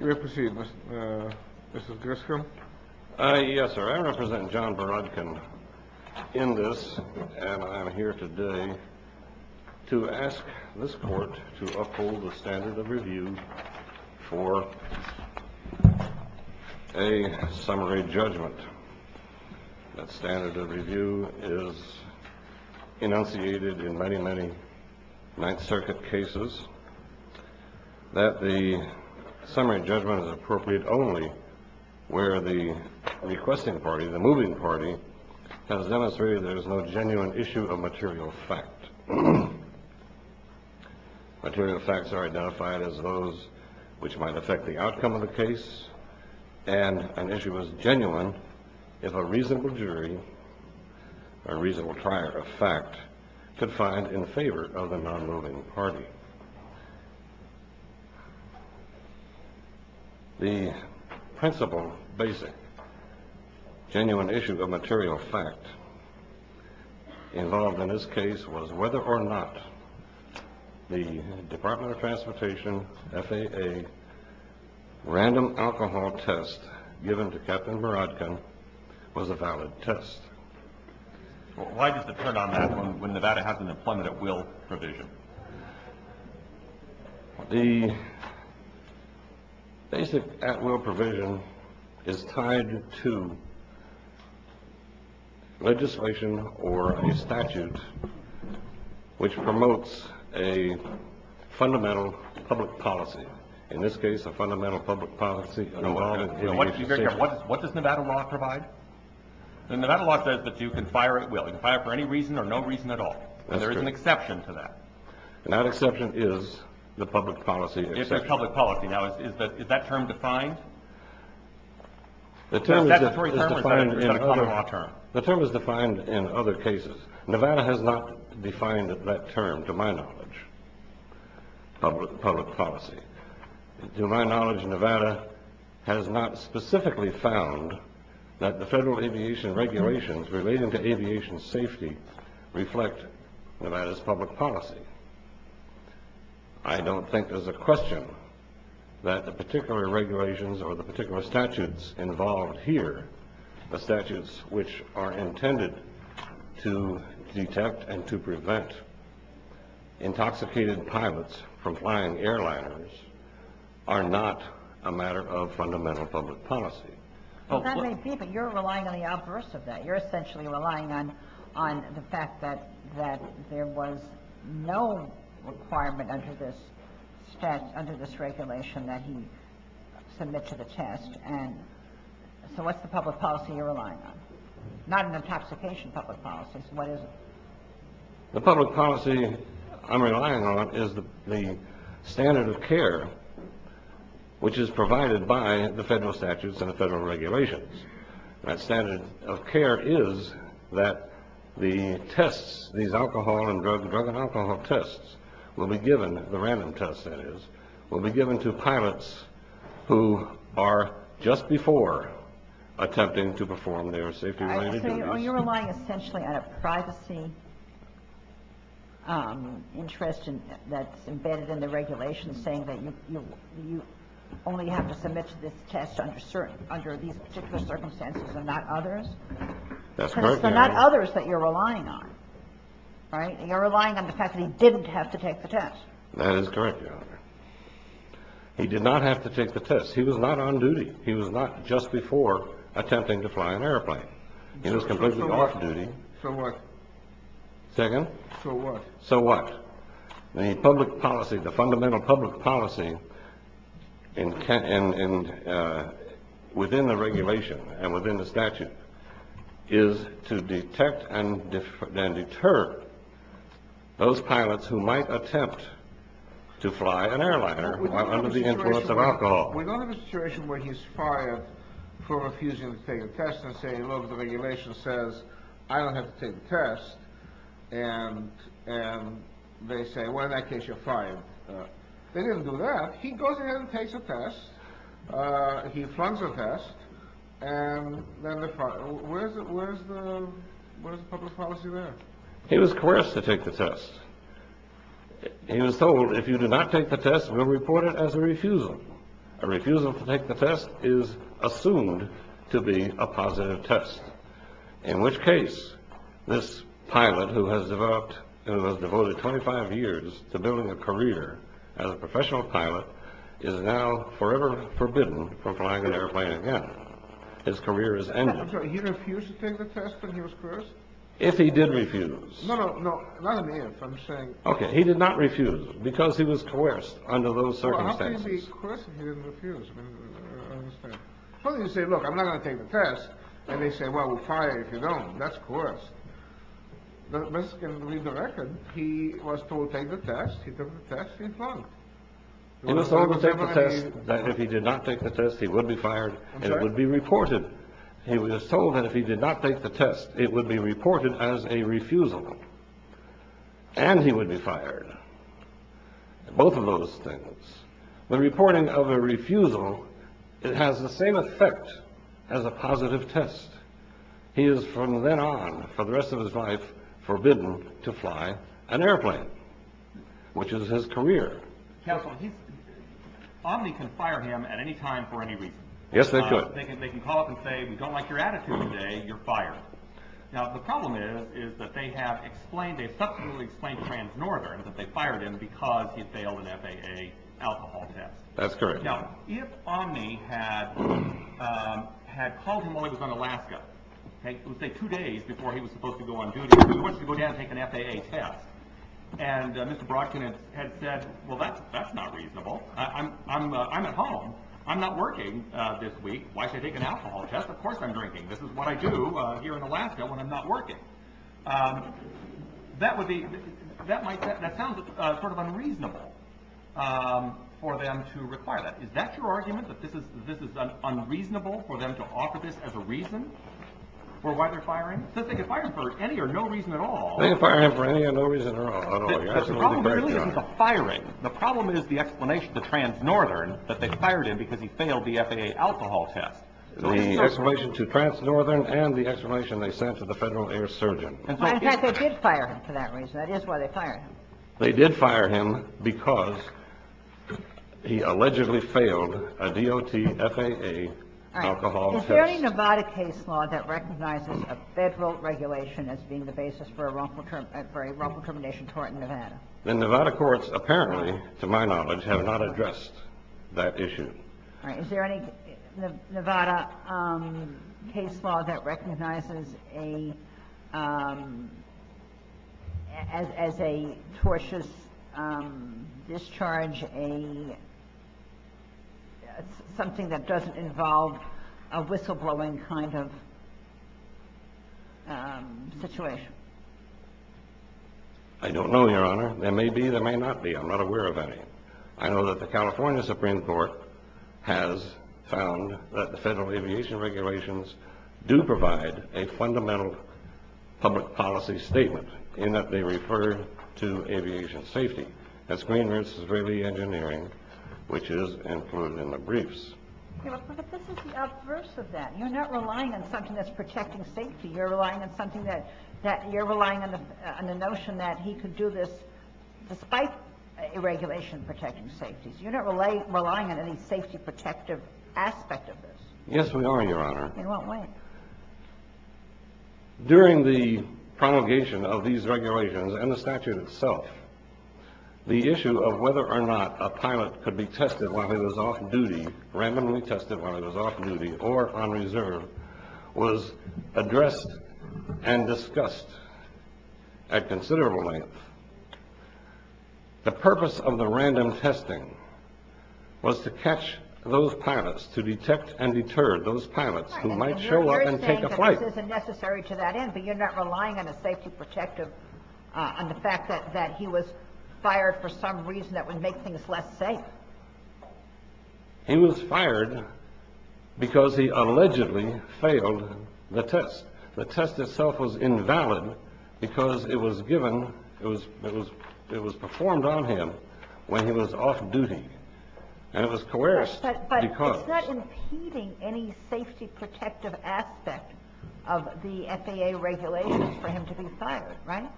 I represent John Borodkin in this and I'm here today to ask this court to uphold the standard of review for a summary judgment. That standard of review is enunciated in many, many Ninth Circuit cases that the summary judgment is appropriate only where the requesting party, the moving party, has demonstrated there is no genuine issue of material fact. Material facts are identified as those which might affect the outcome of the case and an issue is genuine if a reasonable jury, a reasonable prior of fact, could find in favor of the non-moving party. The principle basic genuine issue of material fact involved in this case was whether or not the valid test. Why does it turn on that when Nevada has an employment at will provision? The basic at will provision is tied to legislation or a statute which promotes a fundamental public policy, in this case a fundamental public policy. What does Nevada law provide? Nevada law says that you can fire at will. You can fire for any reason or no reason at all. There is an exception to that. That exception is the public policy exception. Is that term defined? The term is defined in other cases. Nevada has not defined that term, to my knowledge, public policy. To my knowledge, Nevada has not specifically found that the federal aviation regulations relating to aviation safety reflect Nevada's public policy. I don't think there's a question that the particular regulations or the particular statutes involved here, the statutes which are intended to detect and to prevent intoxicated pilots from flying airliners, are not a matter of fundamental public policy. That may be, but you're relying on the adverse of that. You're essentially relying on the fact that there was no requirement under this regulation that he submit to the test. So what's the public policy you're relying on? Not an intoxication public policy, so what is it? The public policy I'm relying on is the standard of care which is provided by the federal statutes and the federal regulations. That standard of care is that the tests, these alcohol and drug and alcohol tests, will be given, the random tests that is, will be given to pilots who are just before attempting to perform their safety-related duties. So you're relying essentially on a privacy interest that's embedded in the regulations saying that you only have to submit to this test under these particular circumstances and not others? That's correct. Because it's not others that you're relying on, right? You're relying on the fact that he didn't have to take the test. That is correct, Your Honor. He did not have to take the test. He was not on duty. He was not just before attempting to fly an airplane. He was completely off duty. So what? Second? So what? So what? The public policy, the fundamental public policy, within the regulation and within the statute is to detect and deter those pilots who might attempt to fly an airliner under the influence of alcohol. We don't have a situation where he's fired for refusing to take a test and say, look, the regulation says, I don't have to take the test. And they say, well, in that case, you're fired. They didn't do that. He goes in and takes a test. He flunks a test. And then where's the public policy there? He was coerced to take the test. He was told, if you do not take the test, we'll report it as a refusal. A refusal to take the test is assumed to be a positive test, in which case this pilot who has devoted 25 years to building a career as a professional pilot is now forever forbidden from flying an airplane again. His career is ended. So he refused to take the test when he was coerced? If he did refuse. No, no, not an if, I'm saying. OK. He did not refuse because he was coerced under those circumstances. Of course he didn't refuse. I understand. So you say, look, I'm not going to take the test. And they say, well, we'll fire you if you don't. That's coerced. But this can read the record. He was told to take the test. He took the test. He flunked. He was told to take the test that if he did not take the test, he would be fired and it would be reported. He was told that if he did not take the test, it would be reported as a refusal. And he would be fired. Both of those things. The reporting of a refusal, it has the same effect as a positive test. He is from then on for the rest of his life forbidden to fly an airplane, which is his career. Counsel, he's. Omni can fire him at any time for any reason. Yes, they could. They can call up and say, we don't like your attitude today. You're fired. Now, the problem is, is that they have explained they subsequently explained Trans-Northern that they fired him because he failed an FAA alcohol test. That's correct. Now, if Omni had had called him while he was in Alaska, say, two days before he was supposed to go on duty, he wants to go down and take an FAA test. And Mr. Brockton had said, well, that's that's not reasonable. I'm I'm I'm at home. I'm not working this week. Why should I take an alcohol test? Of course, I'm drinking. This is what I do here in Alaska when I'm not working. That would be that might that sounds sort of unreasonable for them to require that. Is that your argument that this is this is unreasonable for them to offer this as a reason for why they're firing? So they could fire him for any or no reason at all. They can fire him for any or no reason at all. The problem is the firing. The problem is the explanation to Trans-Northern that they fired him because he failed the FAA alcohol test. The explanation to Trans-Northern and the explanation they sent to the Federal Air Surgeon. In fact, they did fire him for that reason. That is why they fired him. They did fire him because he allegedly failed a DOT FAA alcohol test. Is there any Nevada case law that recognizes a Federal regulation as being the basis for a wrongful term for a wrongful termination tort in Nevada? The Nevada courts, apparently, to my knowledge, have not addressed that issue. All right. Is there any Nevada case law that recognizes a as a tortious discharge? A something that doesn't involve a whistleblowing kind of situation? I don't know, Your Honor. There may be. There may not be. I'm not aware of any. I know that the California Supreme Court has found that the federal aviation regulations do provide a fundamental public policy statement in that they refer to aviation safety. That's Greenridge's Israeli engineering, which is included in the briefs. But this is the outburst of that. You're not relying on something that's protecting safety. You're relying on something that you're relying on the notion that he could do this despite a regulation protecting safety. You're not relying on any safety protective aspect of this. Yes, we are, Your Honor. In what way? During the promulgation of these regulations and the statute itself, the issue of whether or not a pilot could be tested while he was off duty, randomly tested while he was off duty or on reserve, was addressed and discussed at considerable length. The purpose of the random testing was to catch those pilots, to detect and deter those pilots who might show up and take a flight. This isn't necessary to that end, but you're not relying on a safety protective, on the fact that he was fired for some reason that would make things less safe. He was fired because he allegedly failed the test. The test itself was invalid because it was given, it was performed on him when he was off duty and it was coerced. But it's not impeding any safety protective aspect of the FAA regulations for him to be fired, right?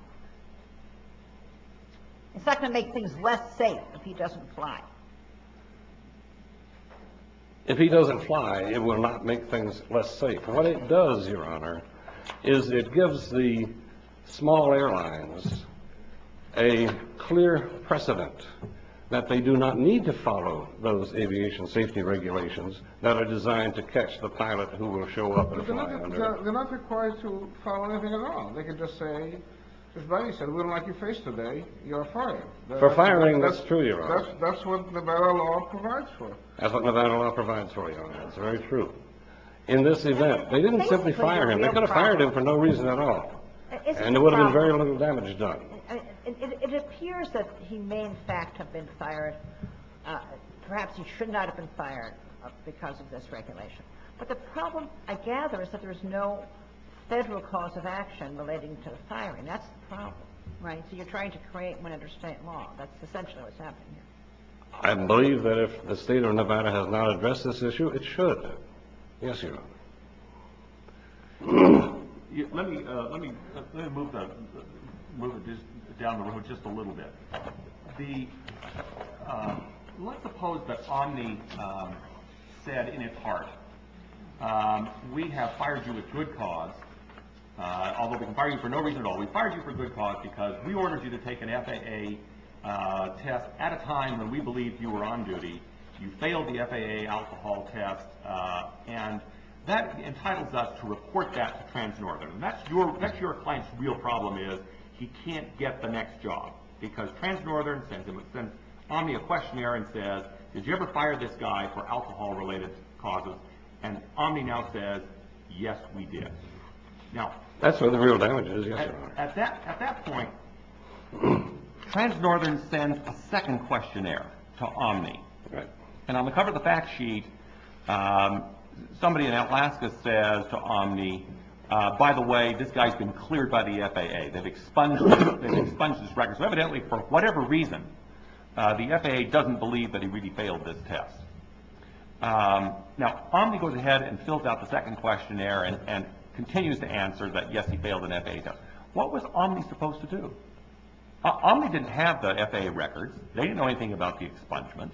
It's not going to make things less safe if he doesn't fly. If he doesn't fly, it will not make things less safe. What it does, Your Honor, is it gives the small airlines a clear precedent that they do not need to follow those aviation safety regulations that are designed to catch the pilot who will show up and fly. They're not required to follow anything at all. They can just say, as Barry said, we don't like your face today, you're fired. For firing, that's true, Your Honor. That's what Nevada law provides for. That's what Nevada law provides for you, that's very true. In this event, they didn't simply fire him. They could have fired him for no reason at all, and there would have been very little damage done. It appears that he may in fact have been fired. Perhaps he should not have been fired because of this regulation. But the problem, I gather, is that there is no federal cause of action relating to firing. That's the problem, right? So you're trying to create one under state law. That's essentially what's happening here. I believe that if the state of Nevada has not addressed this issue, it should. Yes, Your Honor. Let me move this down the road just a little bit. Let's suppose that Omni said in its heart, we have fired you with good cause, although we can fire you for no reason at all. We fired you for good cause because we ordered you to take an FAA test at a time when we believed you were on duty. You failed the FAA alcohol test, and that entitles us to report that to Trans-Northern. That's your client's real problem is he can't get the next job, because Trans-Northern sends Omni a questionnaire and says, did you ever fire this guy for alcohol-related causes? And Omni now says, yes, we did. Now, that's where the real damage is. At that point, Trans-Northern sends a second questionnaire to Omni. And on the cover of the fact sheet, somebody in Atlaska says to Omni, by the way, this guy's been cleared by the FAA. They've expunged his record. So evidently, for whatever reason, the FAA doesn't believe that he really failed this test. Now, Omni goes ahead and fills out the second questionnaire and continues to answer that, yes, he failed an FAA test. What was Omni supposed to do? Omni didn't have the FAA records. They didn't know anything about the expungement.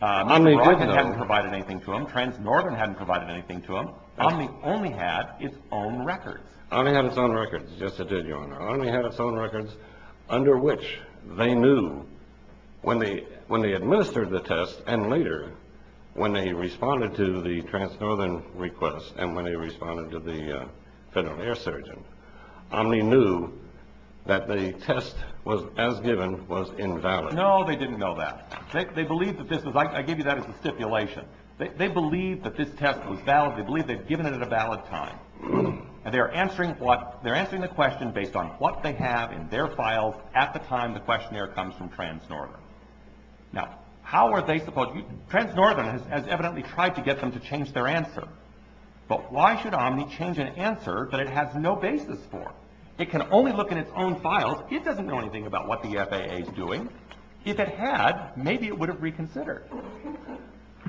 Omni hadn't provided anything to them. Trans-Northern hadn't provided anything to them. Omni only had its own records. Omni had its own records. Yes, it did, Your Honor. Omni had its own records, under which they knew when they administered the test and later, when they responded to the Trans-Northern request and when they responded to the Federal Air Surgeon, Omni knew that the test as given was invalid. No, they didn't know that. They believed that this was, I give you that as a stipulation. They believed that this test was valid. They believed they'd given it at a valid time. And they're answering what, they're answering the question based on what they have in their files at the time the questionnaire comes from Trans-Northern. Now, how are they supposed, Trans-Northern has evidently tried to get them to change their answer. But why should Omni change an answer that it has no basis for? It can only look in its own files. It doesn't know anything about what the FAA is doing. If it had, maybe it would have reconsidered.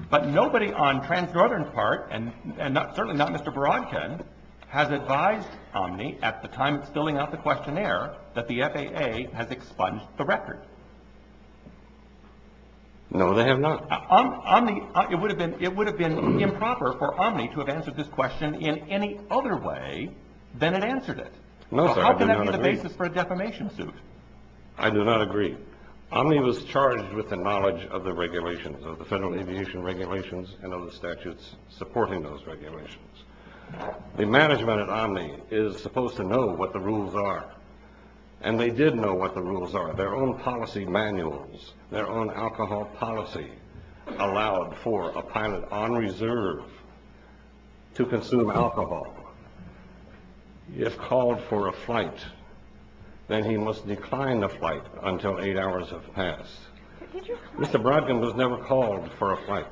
But nobody on Trans-Northern's part, and certainly not Mr. Borodkin, has advised Omni at the time it's filling out the questionnaire that the FAA has expunged the record. No, they have not. Omni, it would have been improper for Omni to have answered this question in any other way than it answered it. So how can that be the basis for a defamation suit? I do not agree. Omni was charged with the knowledge of the regulations, of the federal aviation regulations, and of the statutes supporting those regulations. The management at Omni is supposed to know what the rules are. And they did know what the rules are, their own policy manuals, their own alcohol policy allowed for a pilot on reserve to consume alcohol. If called for a flight, then he must decline the flight until eight hours have passed. Mr. Borodkin was never called for a flight.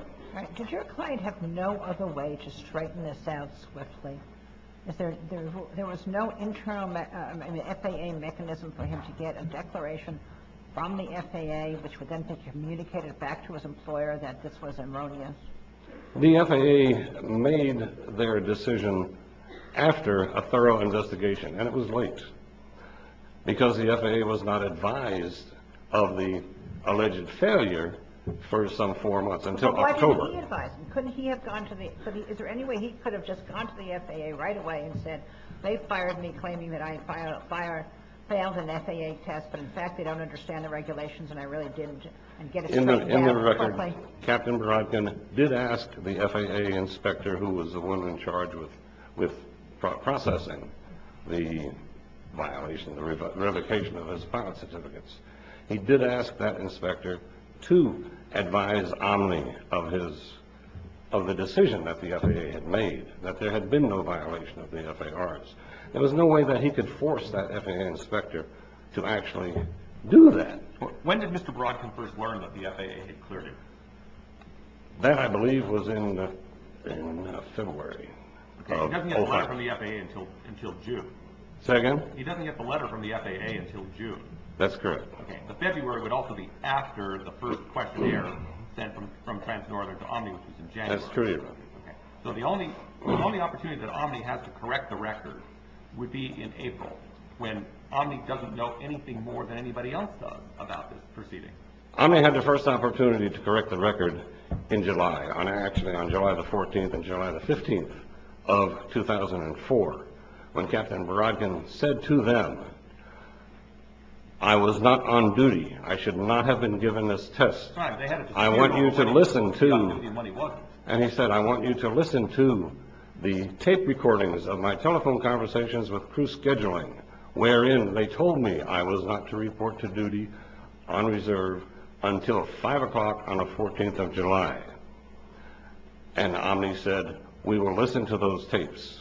Did your client have no other way to straighten this out swiftly? There was no internal FAA mechanism for him to get a declaration from the FAA, which would then be communicated back to his employer that this was erroneous? The FAA made their decision after a thorough investigation. And it was late. Because the FAA was not advised of the alleged failure for some four months until October. Why didn't he advise? Couldn't he have gone to the, is there any way he could have just gone to the FAA right away and said, they fired me claiming that I failed an FAA test, but in fact they don't understand the regulations, and I really didn't. In the record, Captain Borodkin did ask the FAA inspector who was the one in charge with processing the violation, the revocation of his pilot certificates. He did ask that inspector to advise Omni of his, of the decision that the FAA had made, that there had been no violation of the FARs. There was no way that he could force that FAA inspector to actually do that. When did Mr. Borodkin first learn that the FAA had cleared him? That, I believe, was in February. Okay, he doesn't get the letter from the FAA until June. Say again? He doesn't get the letter from the FAA until June. That's correct. Okay, but February would also be after the first questionnaire sent from Trans-Northern to Omni, which was in January. That's true. Okay, so the only opportunity that Omni has to correct the record would be in April, when Omni doesn't know anything more than anybody else does about this proceeding. Omni had the first opportunity to correct the record in July, actually on July the 14th and July the 15th of 2004, when Captain Borodkin said to them, I was not on duty. I should not have been given this test. And he said, I want you to listen to the tape recordings of my telephone conversations with scheduling, wherein they told me I was not to report to duty on reserve until five o'clock on the 14th of July. And Omni said, we will listen to those tapes.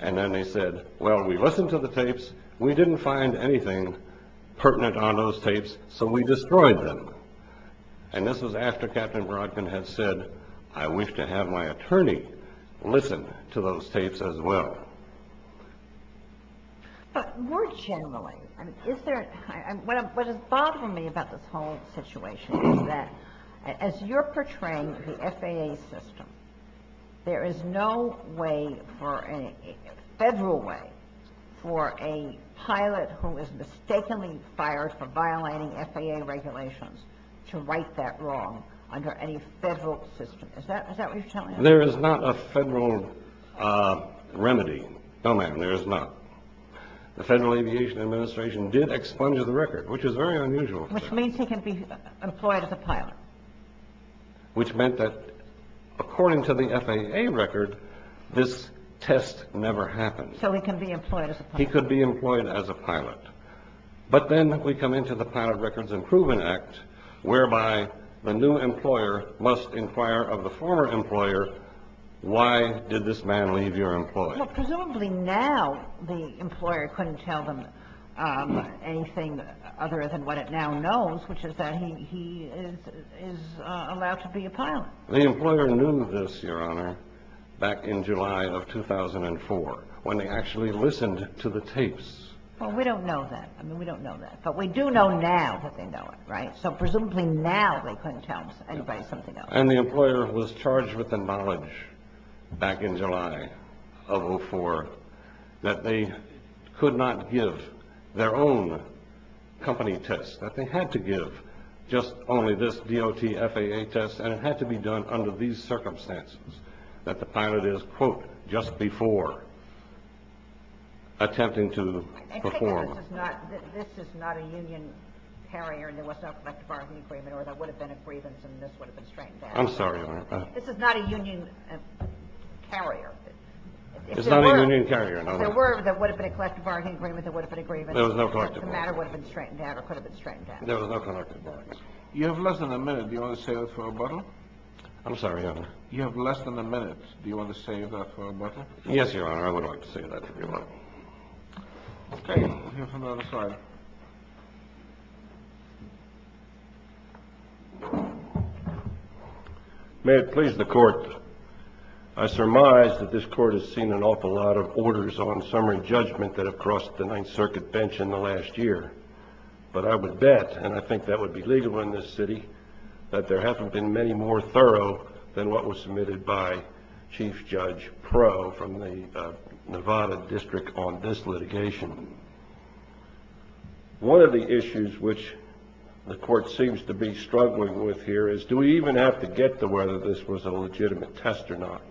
And then they said, well, we listened to the tapes. We didn't find anything pertinent on those tapes, so we destroyed them. And this was after Captain Borodkin had said, I wish to have my attorney listen to those tapes as well. But more generally, what is bothering me about this whole situation is that, as you're portraying the FAA system, there is no way, federal way, for a pilot who is mistakenly fired for violating FAA regulations to right that wrong under any federal system. Is that what you're telling us? There is not a federal remedy. No, ma'am, there is not. The Federal Aviation Administration did expunge the record, which is very unusual. Which means he can be employed as a pilot. Which meant that, according to the FAA record, this test never happened. So he can be employed as a pilot. He could be employed as a pilot. But then we come into the Pilot Records Improvement Act, whereby the new employer must inquire of the former employer, why did this man leave your employer? Presumably now the employer couldn't tell them anything other than what it now knows, which is that he is allowed to be a pilot. The employer knew this, Your Honor, back in July of 2004, when they actually listened to the tapes. Well, we don't know that. I mean, we don't know that. But we do know now that they know it, right? So presumably now they couldn't tell anybody something else. And the employer was charged with the knowledge back in July of 2004 that they could not give their own company tests, that they had to give just only this DOT FAA test, and it had to be done under these circumstances, that the pilot is, quote, just before attempting to perform. I take it this is not a union carrier, and there was no collective bargaining agreement, there would've been a grievance, and this would've been straightened out. I'm sorry, Your Honor. This is not a union carrier. It's not a union carrier, no. If there were there would've been a collective bargaining agreement, there would've been a grievance... There was a collective one. ...and this matter would've been straightened out, or could've been straightened out. There was no collective bargaining... You have less than a minute. Do you want to save it for a bottle? I'm sorry, Your Honor? You have less than a minute. Do you want to save that for a bottle? Yes, Your Honor. I would like to save that if you want. OK. May it please the Court, I surmise that this Court has seen an awful lot of orders on summary judgment that have crossed the Ninth Circuit bench in the last year, but I would bet, and I think that would be legal in this city, that there haven't been many more thorough than what was submitted by Chief Judge Proe from the Nevada District on this litigation. One of the issues which the Court seems to be struggling with here is, do we even have to get to whether this was a legitimate test or not?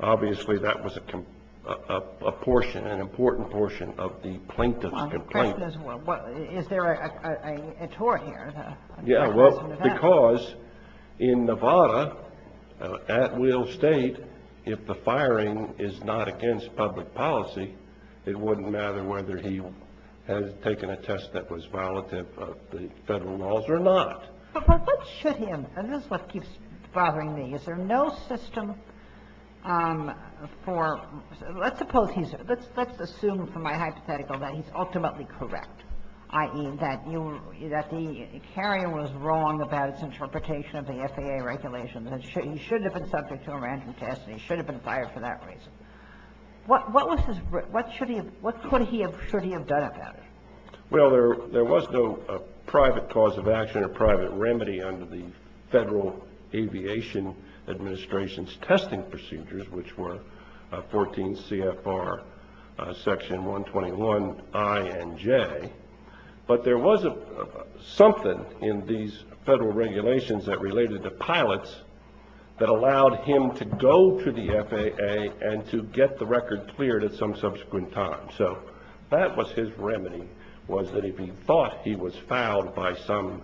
Obviously, that was a portion, an important portion of the plaintiff's complaint. Is there a tort here? Yeah, well, because in Nevada, at Will State, if the firing is not against public policy, it wouldn't matter whether he has taken a test that was violative of the Federal laws or not. But what should him, and this is what keeps bothering me, is there no system for, let's suppose he's, let's assume from my hypothetical that he's ultimately correct, i.e. that you, that the carrier was wrong about its interpretation of the FAA regulations, that he should have been subject to a random test and he should have been fired for that reason. What was his, what should he have, what could he have, should he have done about it? Well, there was no private cause of action or private remedy under the Federal Aviation Administration's testing procedures, which were 14 CFR section 121 I and J. But there was something in these Federal regulations that related to pilots that allowed him to go to the FAA and to get the record cleared at some subsequent time. So that was his remedy, was that if he thought he was fouled by some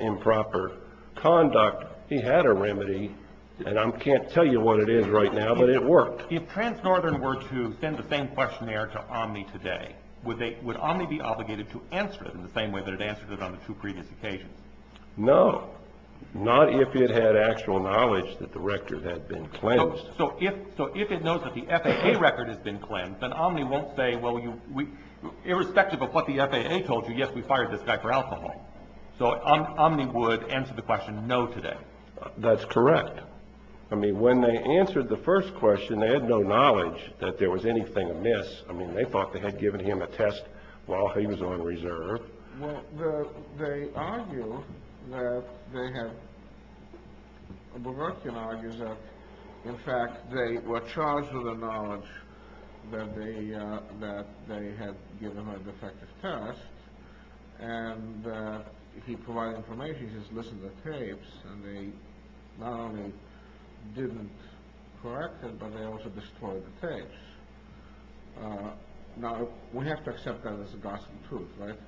improper conduct, he had a remedy, and I can't tell you what it is right now, but it worked. If Trans-Northern were to send the same questionnaire to Omni today, would they, would Omni be obligated to answer it in the same way that it answered it on the two previous occasions? No, not if it had actual knowledge that the record had been cleansed. So if, so if it knows that the FAA record has been cleansed, then Omni won't say, well, irrespective of what the FAA told you, yes, we fired this guy for alcohol. So Omni would answer the question no today. That's correct. I mean, when they answered the first question, they had no knowledge that there was anything amiss. I mean, they thought they had given him a test while he was on reserve. Well, they argue that they had, Bergerkin argues that, in fact, they were charged with the knowledge that they had given a defective test, and he provided information. He says, listen to the tapes, and they not only didn't correct it, but they also destroyed the tapes. Now, we have to accept that as a gospel truth, right?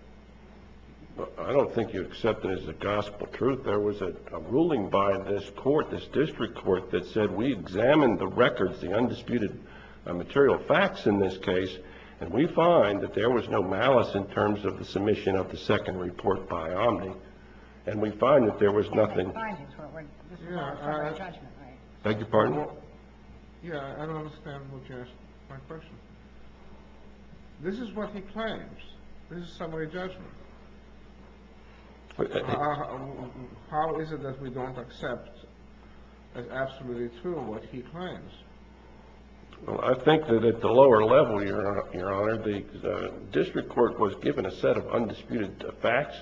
I don't think you accept it as a gospel truth. There was a ruling by this court, this district court, that said, we examined the records, the undisputed material facts in this case, and we find that there was no malice in terms of the submission of the second report by Omni. And we find that there was nothing. Thank you, partner. Yeah, I don't understand what you asked my question. This is what he claims. This is summary judgment. How is it that we don't accept as absolutely true what he claims? Well, I think that at the lower level, Your Honor, the district court was given a set of undisputed facts.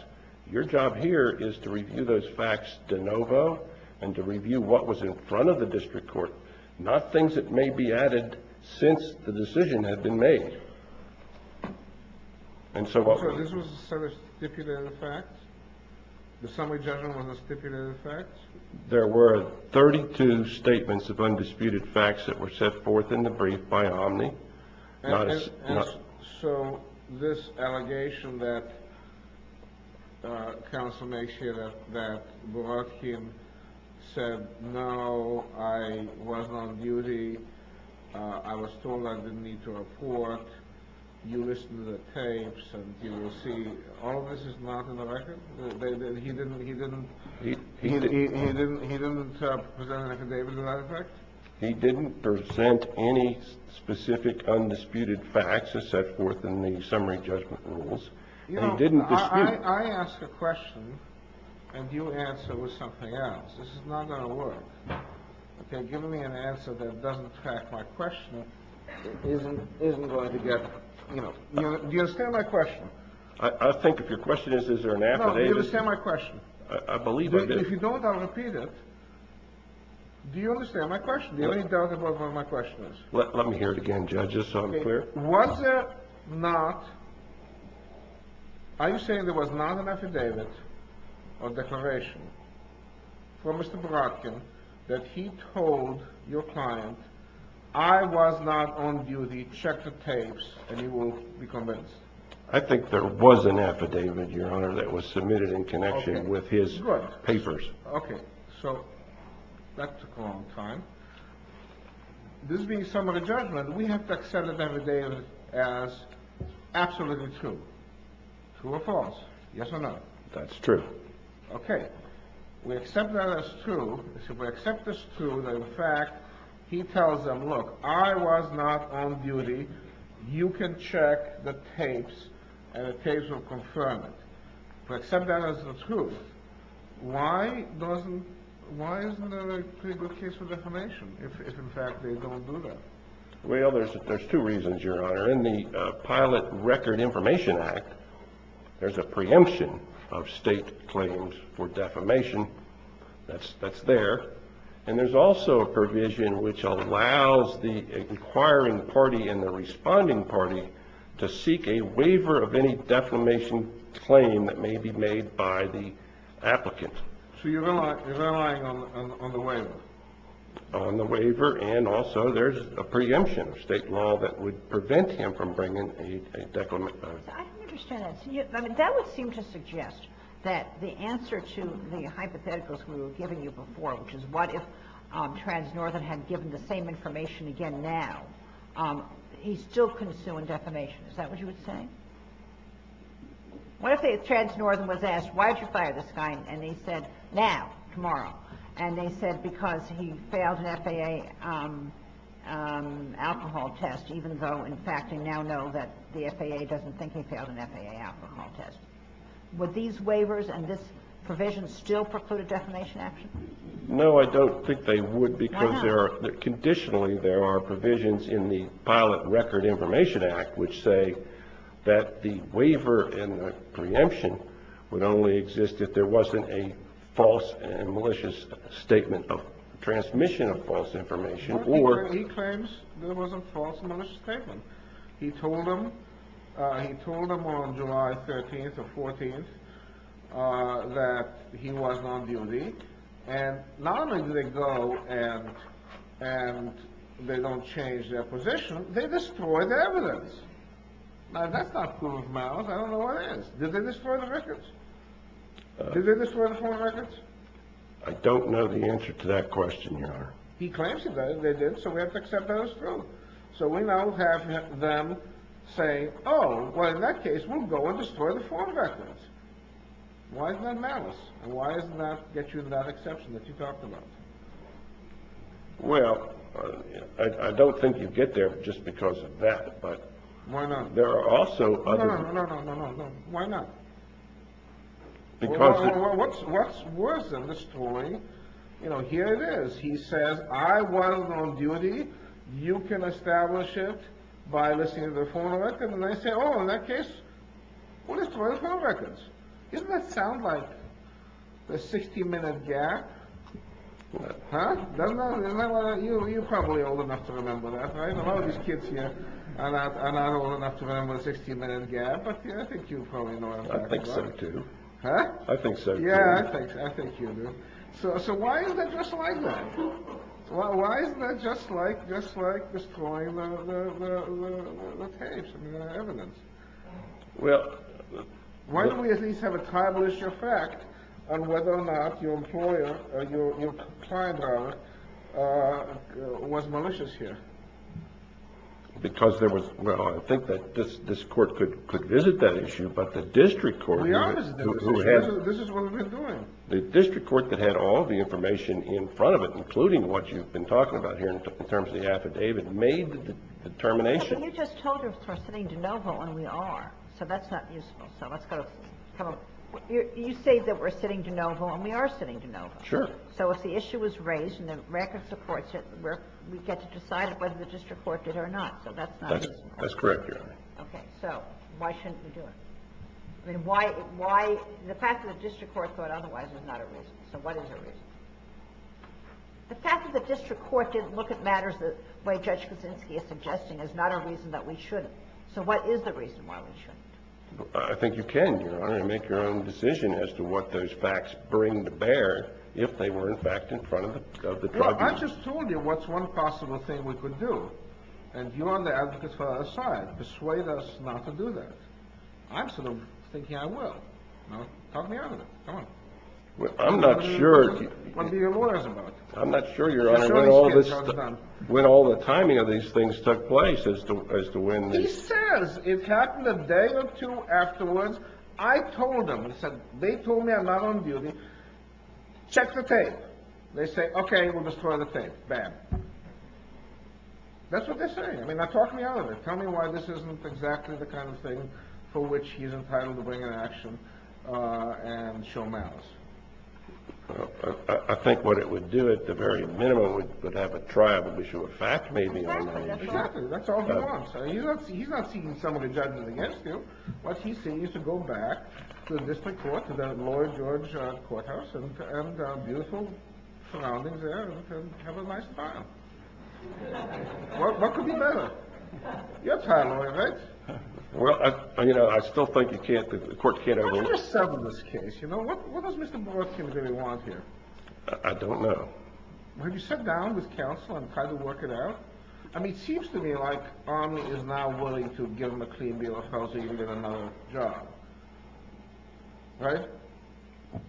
Your job here is to review those facts de novo and to review what was in front of the district court, not things that may be added since the decision had been made. And so this was a set of stipulated facts? The summary judgment was a stipulated fact? There were 32 statements of undisputed facts that were set forth in the brief by Omni. So this allegation that counsel makes here that Borodkin said, no, I was on duty, I was told I didn't need to report, you listened to the tapes, and you will see all of this is not in the record? He didn't present an affidavit to that effect? He didn't present any specific undisputed facts as set forth in the summary judgment rules. You know, I ask a question and you answer with something else. This is not going to work. Okay, give me an answer that doesn't track my question isn't going to get, do you understand my question? I think if your question is, is there an affidavit? No, do you understand my question? I believe I do. If you don't, I'll repeat it. Do you understand my question? Do you have any doubt about what my question is? Let me hear it again, judge, just so I'm clear. Was it not, are you saying there was not an affidavit or declaration for Mr. Borodkin that he told your client, I was not on duty, check the tapes and you will be convinced? I think there was an affidavit, your honor, that was submitted in connection with his papers. Okay, so that took a long time. This being summary judgment, we have to accept the affidavit as absolutely true. True or false? Yes or no? That's true. Okay, we accept that as true. We accept this true that in fact, he tells them, look, I was not on duty. You can check the tapes and the tapes will confirm it. We accept that as the truth. Why doesn't, why isn't there a pretty good case for defamation if in fact they don't do that? Well, there's two reasons, your honor. In the Pilot Record Information Act, there's a preemption of state claims for defamation. That's, that's there. And there's also a provision which allows the inquiring party and the responding party to seek a waiver of any defamation claim that may be made by the applicant. So you're relying on the waiver? On the waiver and also there's a preemption of state law that would prevent him from bringing a defamation. I don't understand that. That would seem to suggest that the answer to the hypotheticals we were giving you before, which is what if Trans-Northern had given the same information again now, he still couldn't sue in defamation. Is that what you would say? What if Trans-Northern was asked, why did you fire this guy? And they said, now, tomorrow. And they said, because he failed an FAA alcohol test, even though in fact they now know that the FAA doesn't think he failed an FAA alcohol test. Would these waivers and this provision still preclude a defamation action? No, I don't think they would because there are, conditionally, there are provisions in the Pilot Record Information Act which say that the waiver and the preemption would only exist if there wasn't a false and malicious statement of transmission of false information or... He claims there was a false and malicious statement. He told them, he told them on July 13th or 14th that he was on duty and not only do they go and they don't change their position, they destroy the evidence. Now, that's not cool of mouth. I don't know what it is. Did they destroy the records? Did they destroy the foreign records? I don't know the answer to that question, Your Honor. He claims they did, so we have to accept that as true. So we now have them say, oh, well, in that case, we'll go and destroy the foreign records. Why is that malice? And why does that get you that exception that you talked about? Well, I don't think you get there just because of that, but... Why not? There are also other... No, no, no, no, no, no, no, no, no. Why not? Because... What's worse than destroying? You know, here it is. He says, I was on duty. You can establish it by listening to the foreign records. And they say, oh, in that case, we'll destroy the foreign records. Doesn't that sound like a 60-minute gap? Huh? You're probably old enough to remember that, right? A lot of these kids here are not old enough to remember a 60-minute gap, but I think you probably know what I'm talking about. I think so, too. I think so, too. Yeah, I think you do. So why is that just like that? Well, why isn't that just like, just like destroying the tapes, I mean, the evidence? Well... Why don't we at least have a tablish effect on whether or not your employer, your client, was malicious here? Because there was... Well, I think that this court could visit that issue, but the district court... We always do. This is what we've been doing. The district court that had all the information in front of it including what you've been talking about here in terms of the affidavit, made the determination... But you just told us we're sitting de novo and we are. So that's not useful. So let's go... You say that we're sitting de novo and we are sitting de novo. Sure. So if the issue was raised and the record supports it, we get to decide whether the district court did or not. So that's not useful. That's correct, Your Honor. Okay, so why shouldn't we do it? I mean, why... The fact that the district court thought otherwise is not a reason. So what is a reason? The fact that the district court didn't look at matters the way Judge Kuczynski is suggesting is not a reason that we shouldn't. So what is the reason why we shouldn't? I think you can, Your Honor, make your own decision as to what those facts bring to bear if they were, in fact, in front of the tribunal. Well, I just told you what's one possible thing we could do. And you and the advocates fell out of sight. Persuade us not to do that. I'm sort of thinking I will. Talk me out of it. Go on. Well, I'm not sure... I don't want to be your lawyers about it. I'm not sure, Your Honor, when all the timing of these things took place as to when... He says it happened a day or two afterwards. I told him, he said, they told me I'm not on duty. Check the tape. They say, okay, we'll destroy the tape. Bad. That's what they're saying. I mean, talk me out of it. Tell me why this isn't exactly the kind of thing for which he's entitled to bring an action and show malice. Well, I think what it would do at the very minimum would have a trial and issue a fact maybe. Exactly. That's all he wants. He's not seeking someone to judge him against him. What he sees is to go back to the district court, to that lower George courthouse and beautiful surroundings there and have a nice time. What could be better? You're a trial lawyer, right? Well, you know, I still think you can't, the court can't ever... How do you settle this case? What does Mr. Borthkin really want here? I don't know. Have you sat down with counsel and tried to work it out? I mean, it seems to me like Omni is now willing to give him a clean bill of health so he can get another job. Right?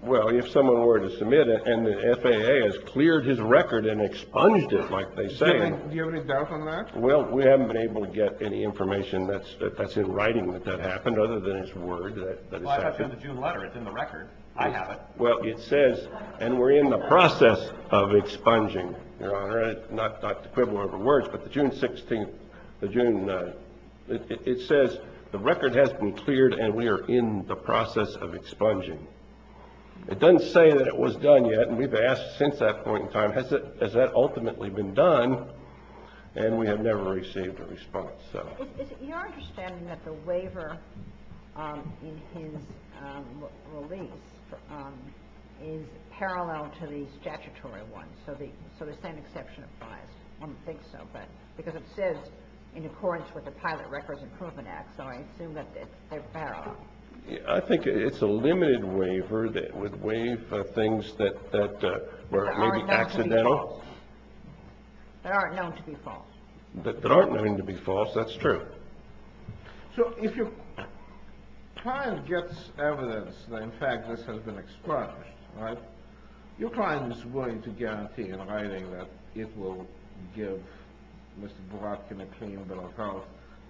Well, if someone were to submit it and the FAA has cleared his record and expunged it like they say... Do you have any doubt on that? Well, we haven't been able to get any information that's in writing that that happened other than his word that it's happened. The June letter, it's in the record. I have it. Well, it says, and we're in the process of expunging, Your Honor, not to quibble over words, but the June 16th, the June... It says the record has been cleared and we are in the process of expunging. It doesn't say that it was done yet and we've asked since that point in time, has that ultimately been done? And we have never received a response. Your understanding that the waiver in his release is parallel to the statutory ones, so the same exception applies? I don't think so, but because it says in accordance with the Pilot Records Improvement Act, so I assume that they're parallel. I think it's a limited waiver that would waive things that were maybe accidental. That aren't known to be false. That aren't known to be false. That's true. So if your client gets evidence that in fact this has been expunged, right, your client is willing to guarantee in writing that it will give Mr. Boratkin a clean bill of health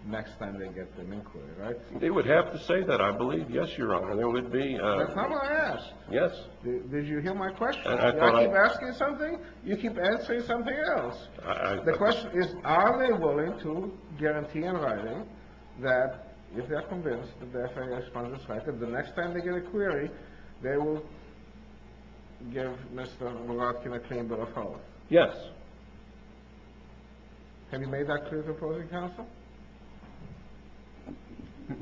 next time they get an inquiry, right? They would have to say that, I believe. Yes, Your Honor, there would be... That's not what I asked. Yes. Did you hear my question? I thought... I keep asking something, you keep answering something else. The question is, are they willing to guarantee in writing that if they're convinced that the FBI expunged this record, the next time they get a query, they will give Mr. Boratkin a clean bill of health? Yes. Have you made that clear to opposing counsel?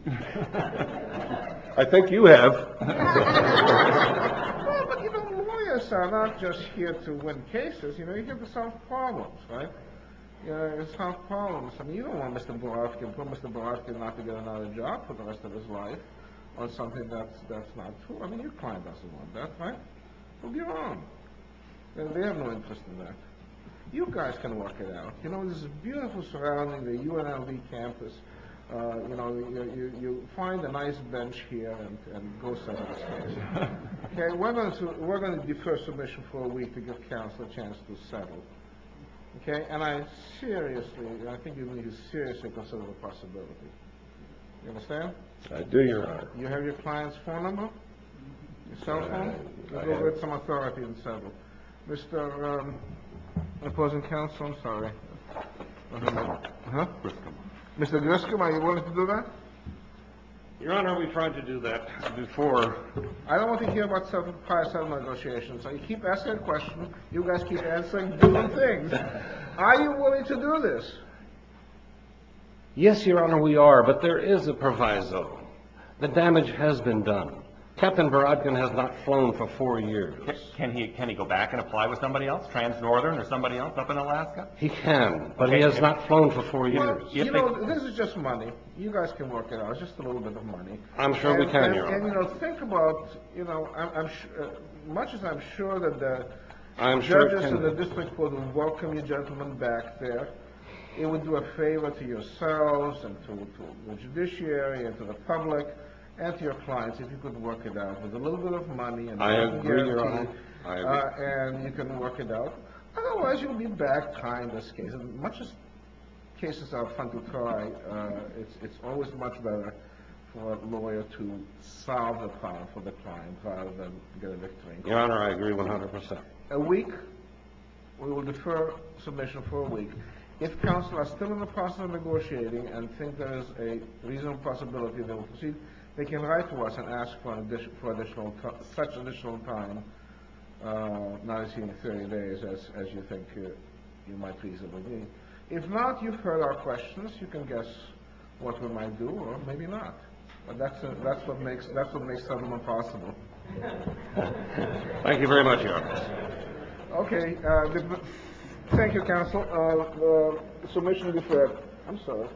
I think you have. Well, but you know, lawyers are not just here to win cases. You know, you're here to solve problems, right? You know, to solve problems. I mean, you don't want Mr. Boratkin, you don't want Mr. Boratkin not to get another job for the rest of his life on something that's not true. I mean, your client doesn't want that, right? So get on. They have no interest in that. You guys can work it out. You know, this is a beautiful surrounding, the UNLV campus. You know, you find a nice bench here and go set up a space, okay? We're going to defer submission for a week to give counsel a chance to settle, okay? And I seriously, I think you need to seriously consider the possibility. You understand? I do, Your Honor. You have your client's phone number? Your cell phone? I do. Give it some authority and settle. Mr. Opposing counsel, I'm sorry. Mr. Grisham, are you willing to do that? Your Honor, we've tried to do that before. I don't want to hear about prior settlement negotiations. I keep asking questions, you guys keep answering, doing things. Are you willing to do this? Yes, Your Honor, we are, but there is a proviso. The damage has been done. Captain Baradgan has not flown for four years. Can he go back and apply with somebody else? Trans-Northern or somebody else up in Alaska? He can, but he has not flown for four years. You know, this is just money. You guys can work it out, just a little bit of money. I'm sure we can, Your Honor. And you know, think about, you know, much as I'm sure that the judges in the district would welcome you gentlemen back there, it would do a favor to yourselves and to the judiciary and to the public and to your clients if you could work it out with a little bit of money. I agree, Your Honor, I agree. And you can work it out. Otherwise, you'll be back trying this case. Much as cases are fun to try, it's always much better for a lawyer to solve the problem for the client rather than get a victory. Your Honor, I agree 100%. A week, we will defer submission for a week. If counsel are still in the process of negotiating and think there is a reasonable possibility that we'll proceed, they can write to us and ask for additional, such additional time, not exceeding 30 days, as you think you might reasonably need. If not, you've heard our questions. You can guess what we might do, or maybe not. But that's what makes settlement possible. Thank you very much, Your Honor. Okay. Thank you, counsel. Submission deferred. I'm sorry.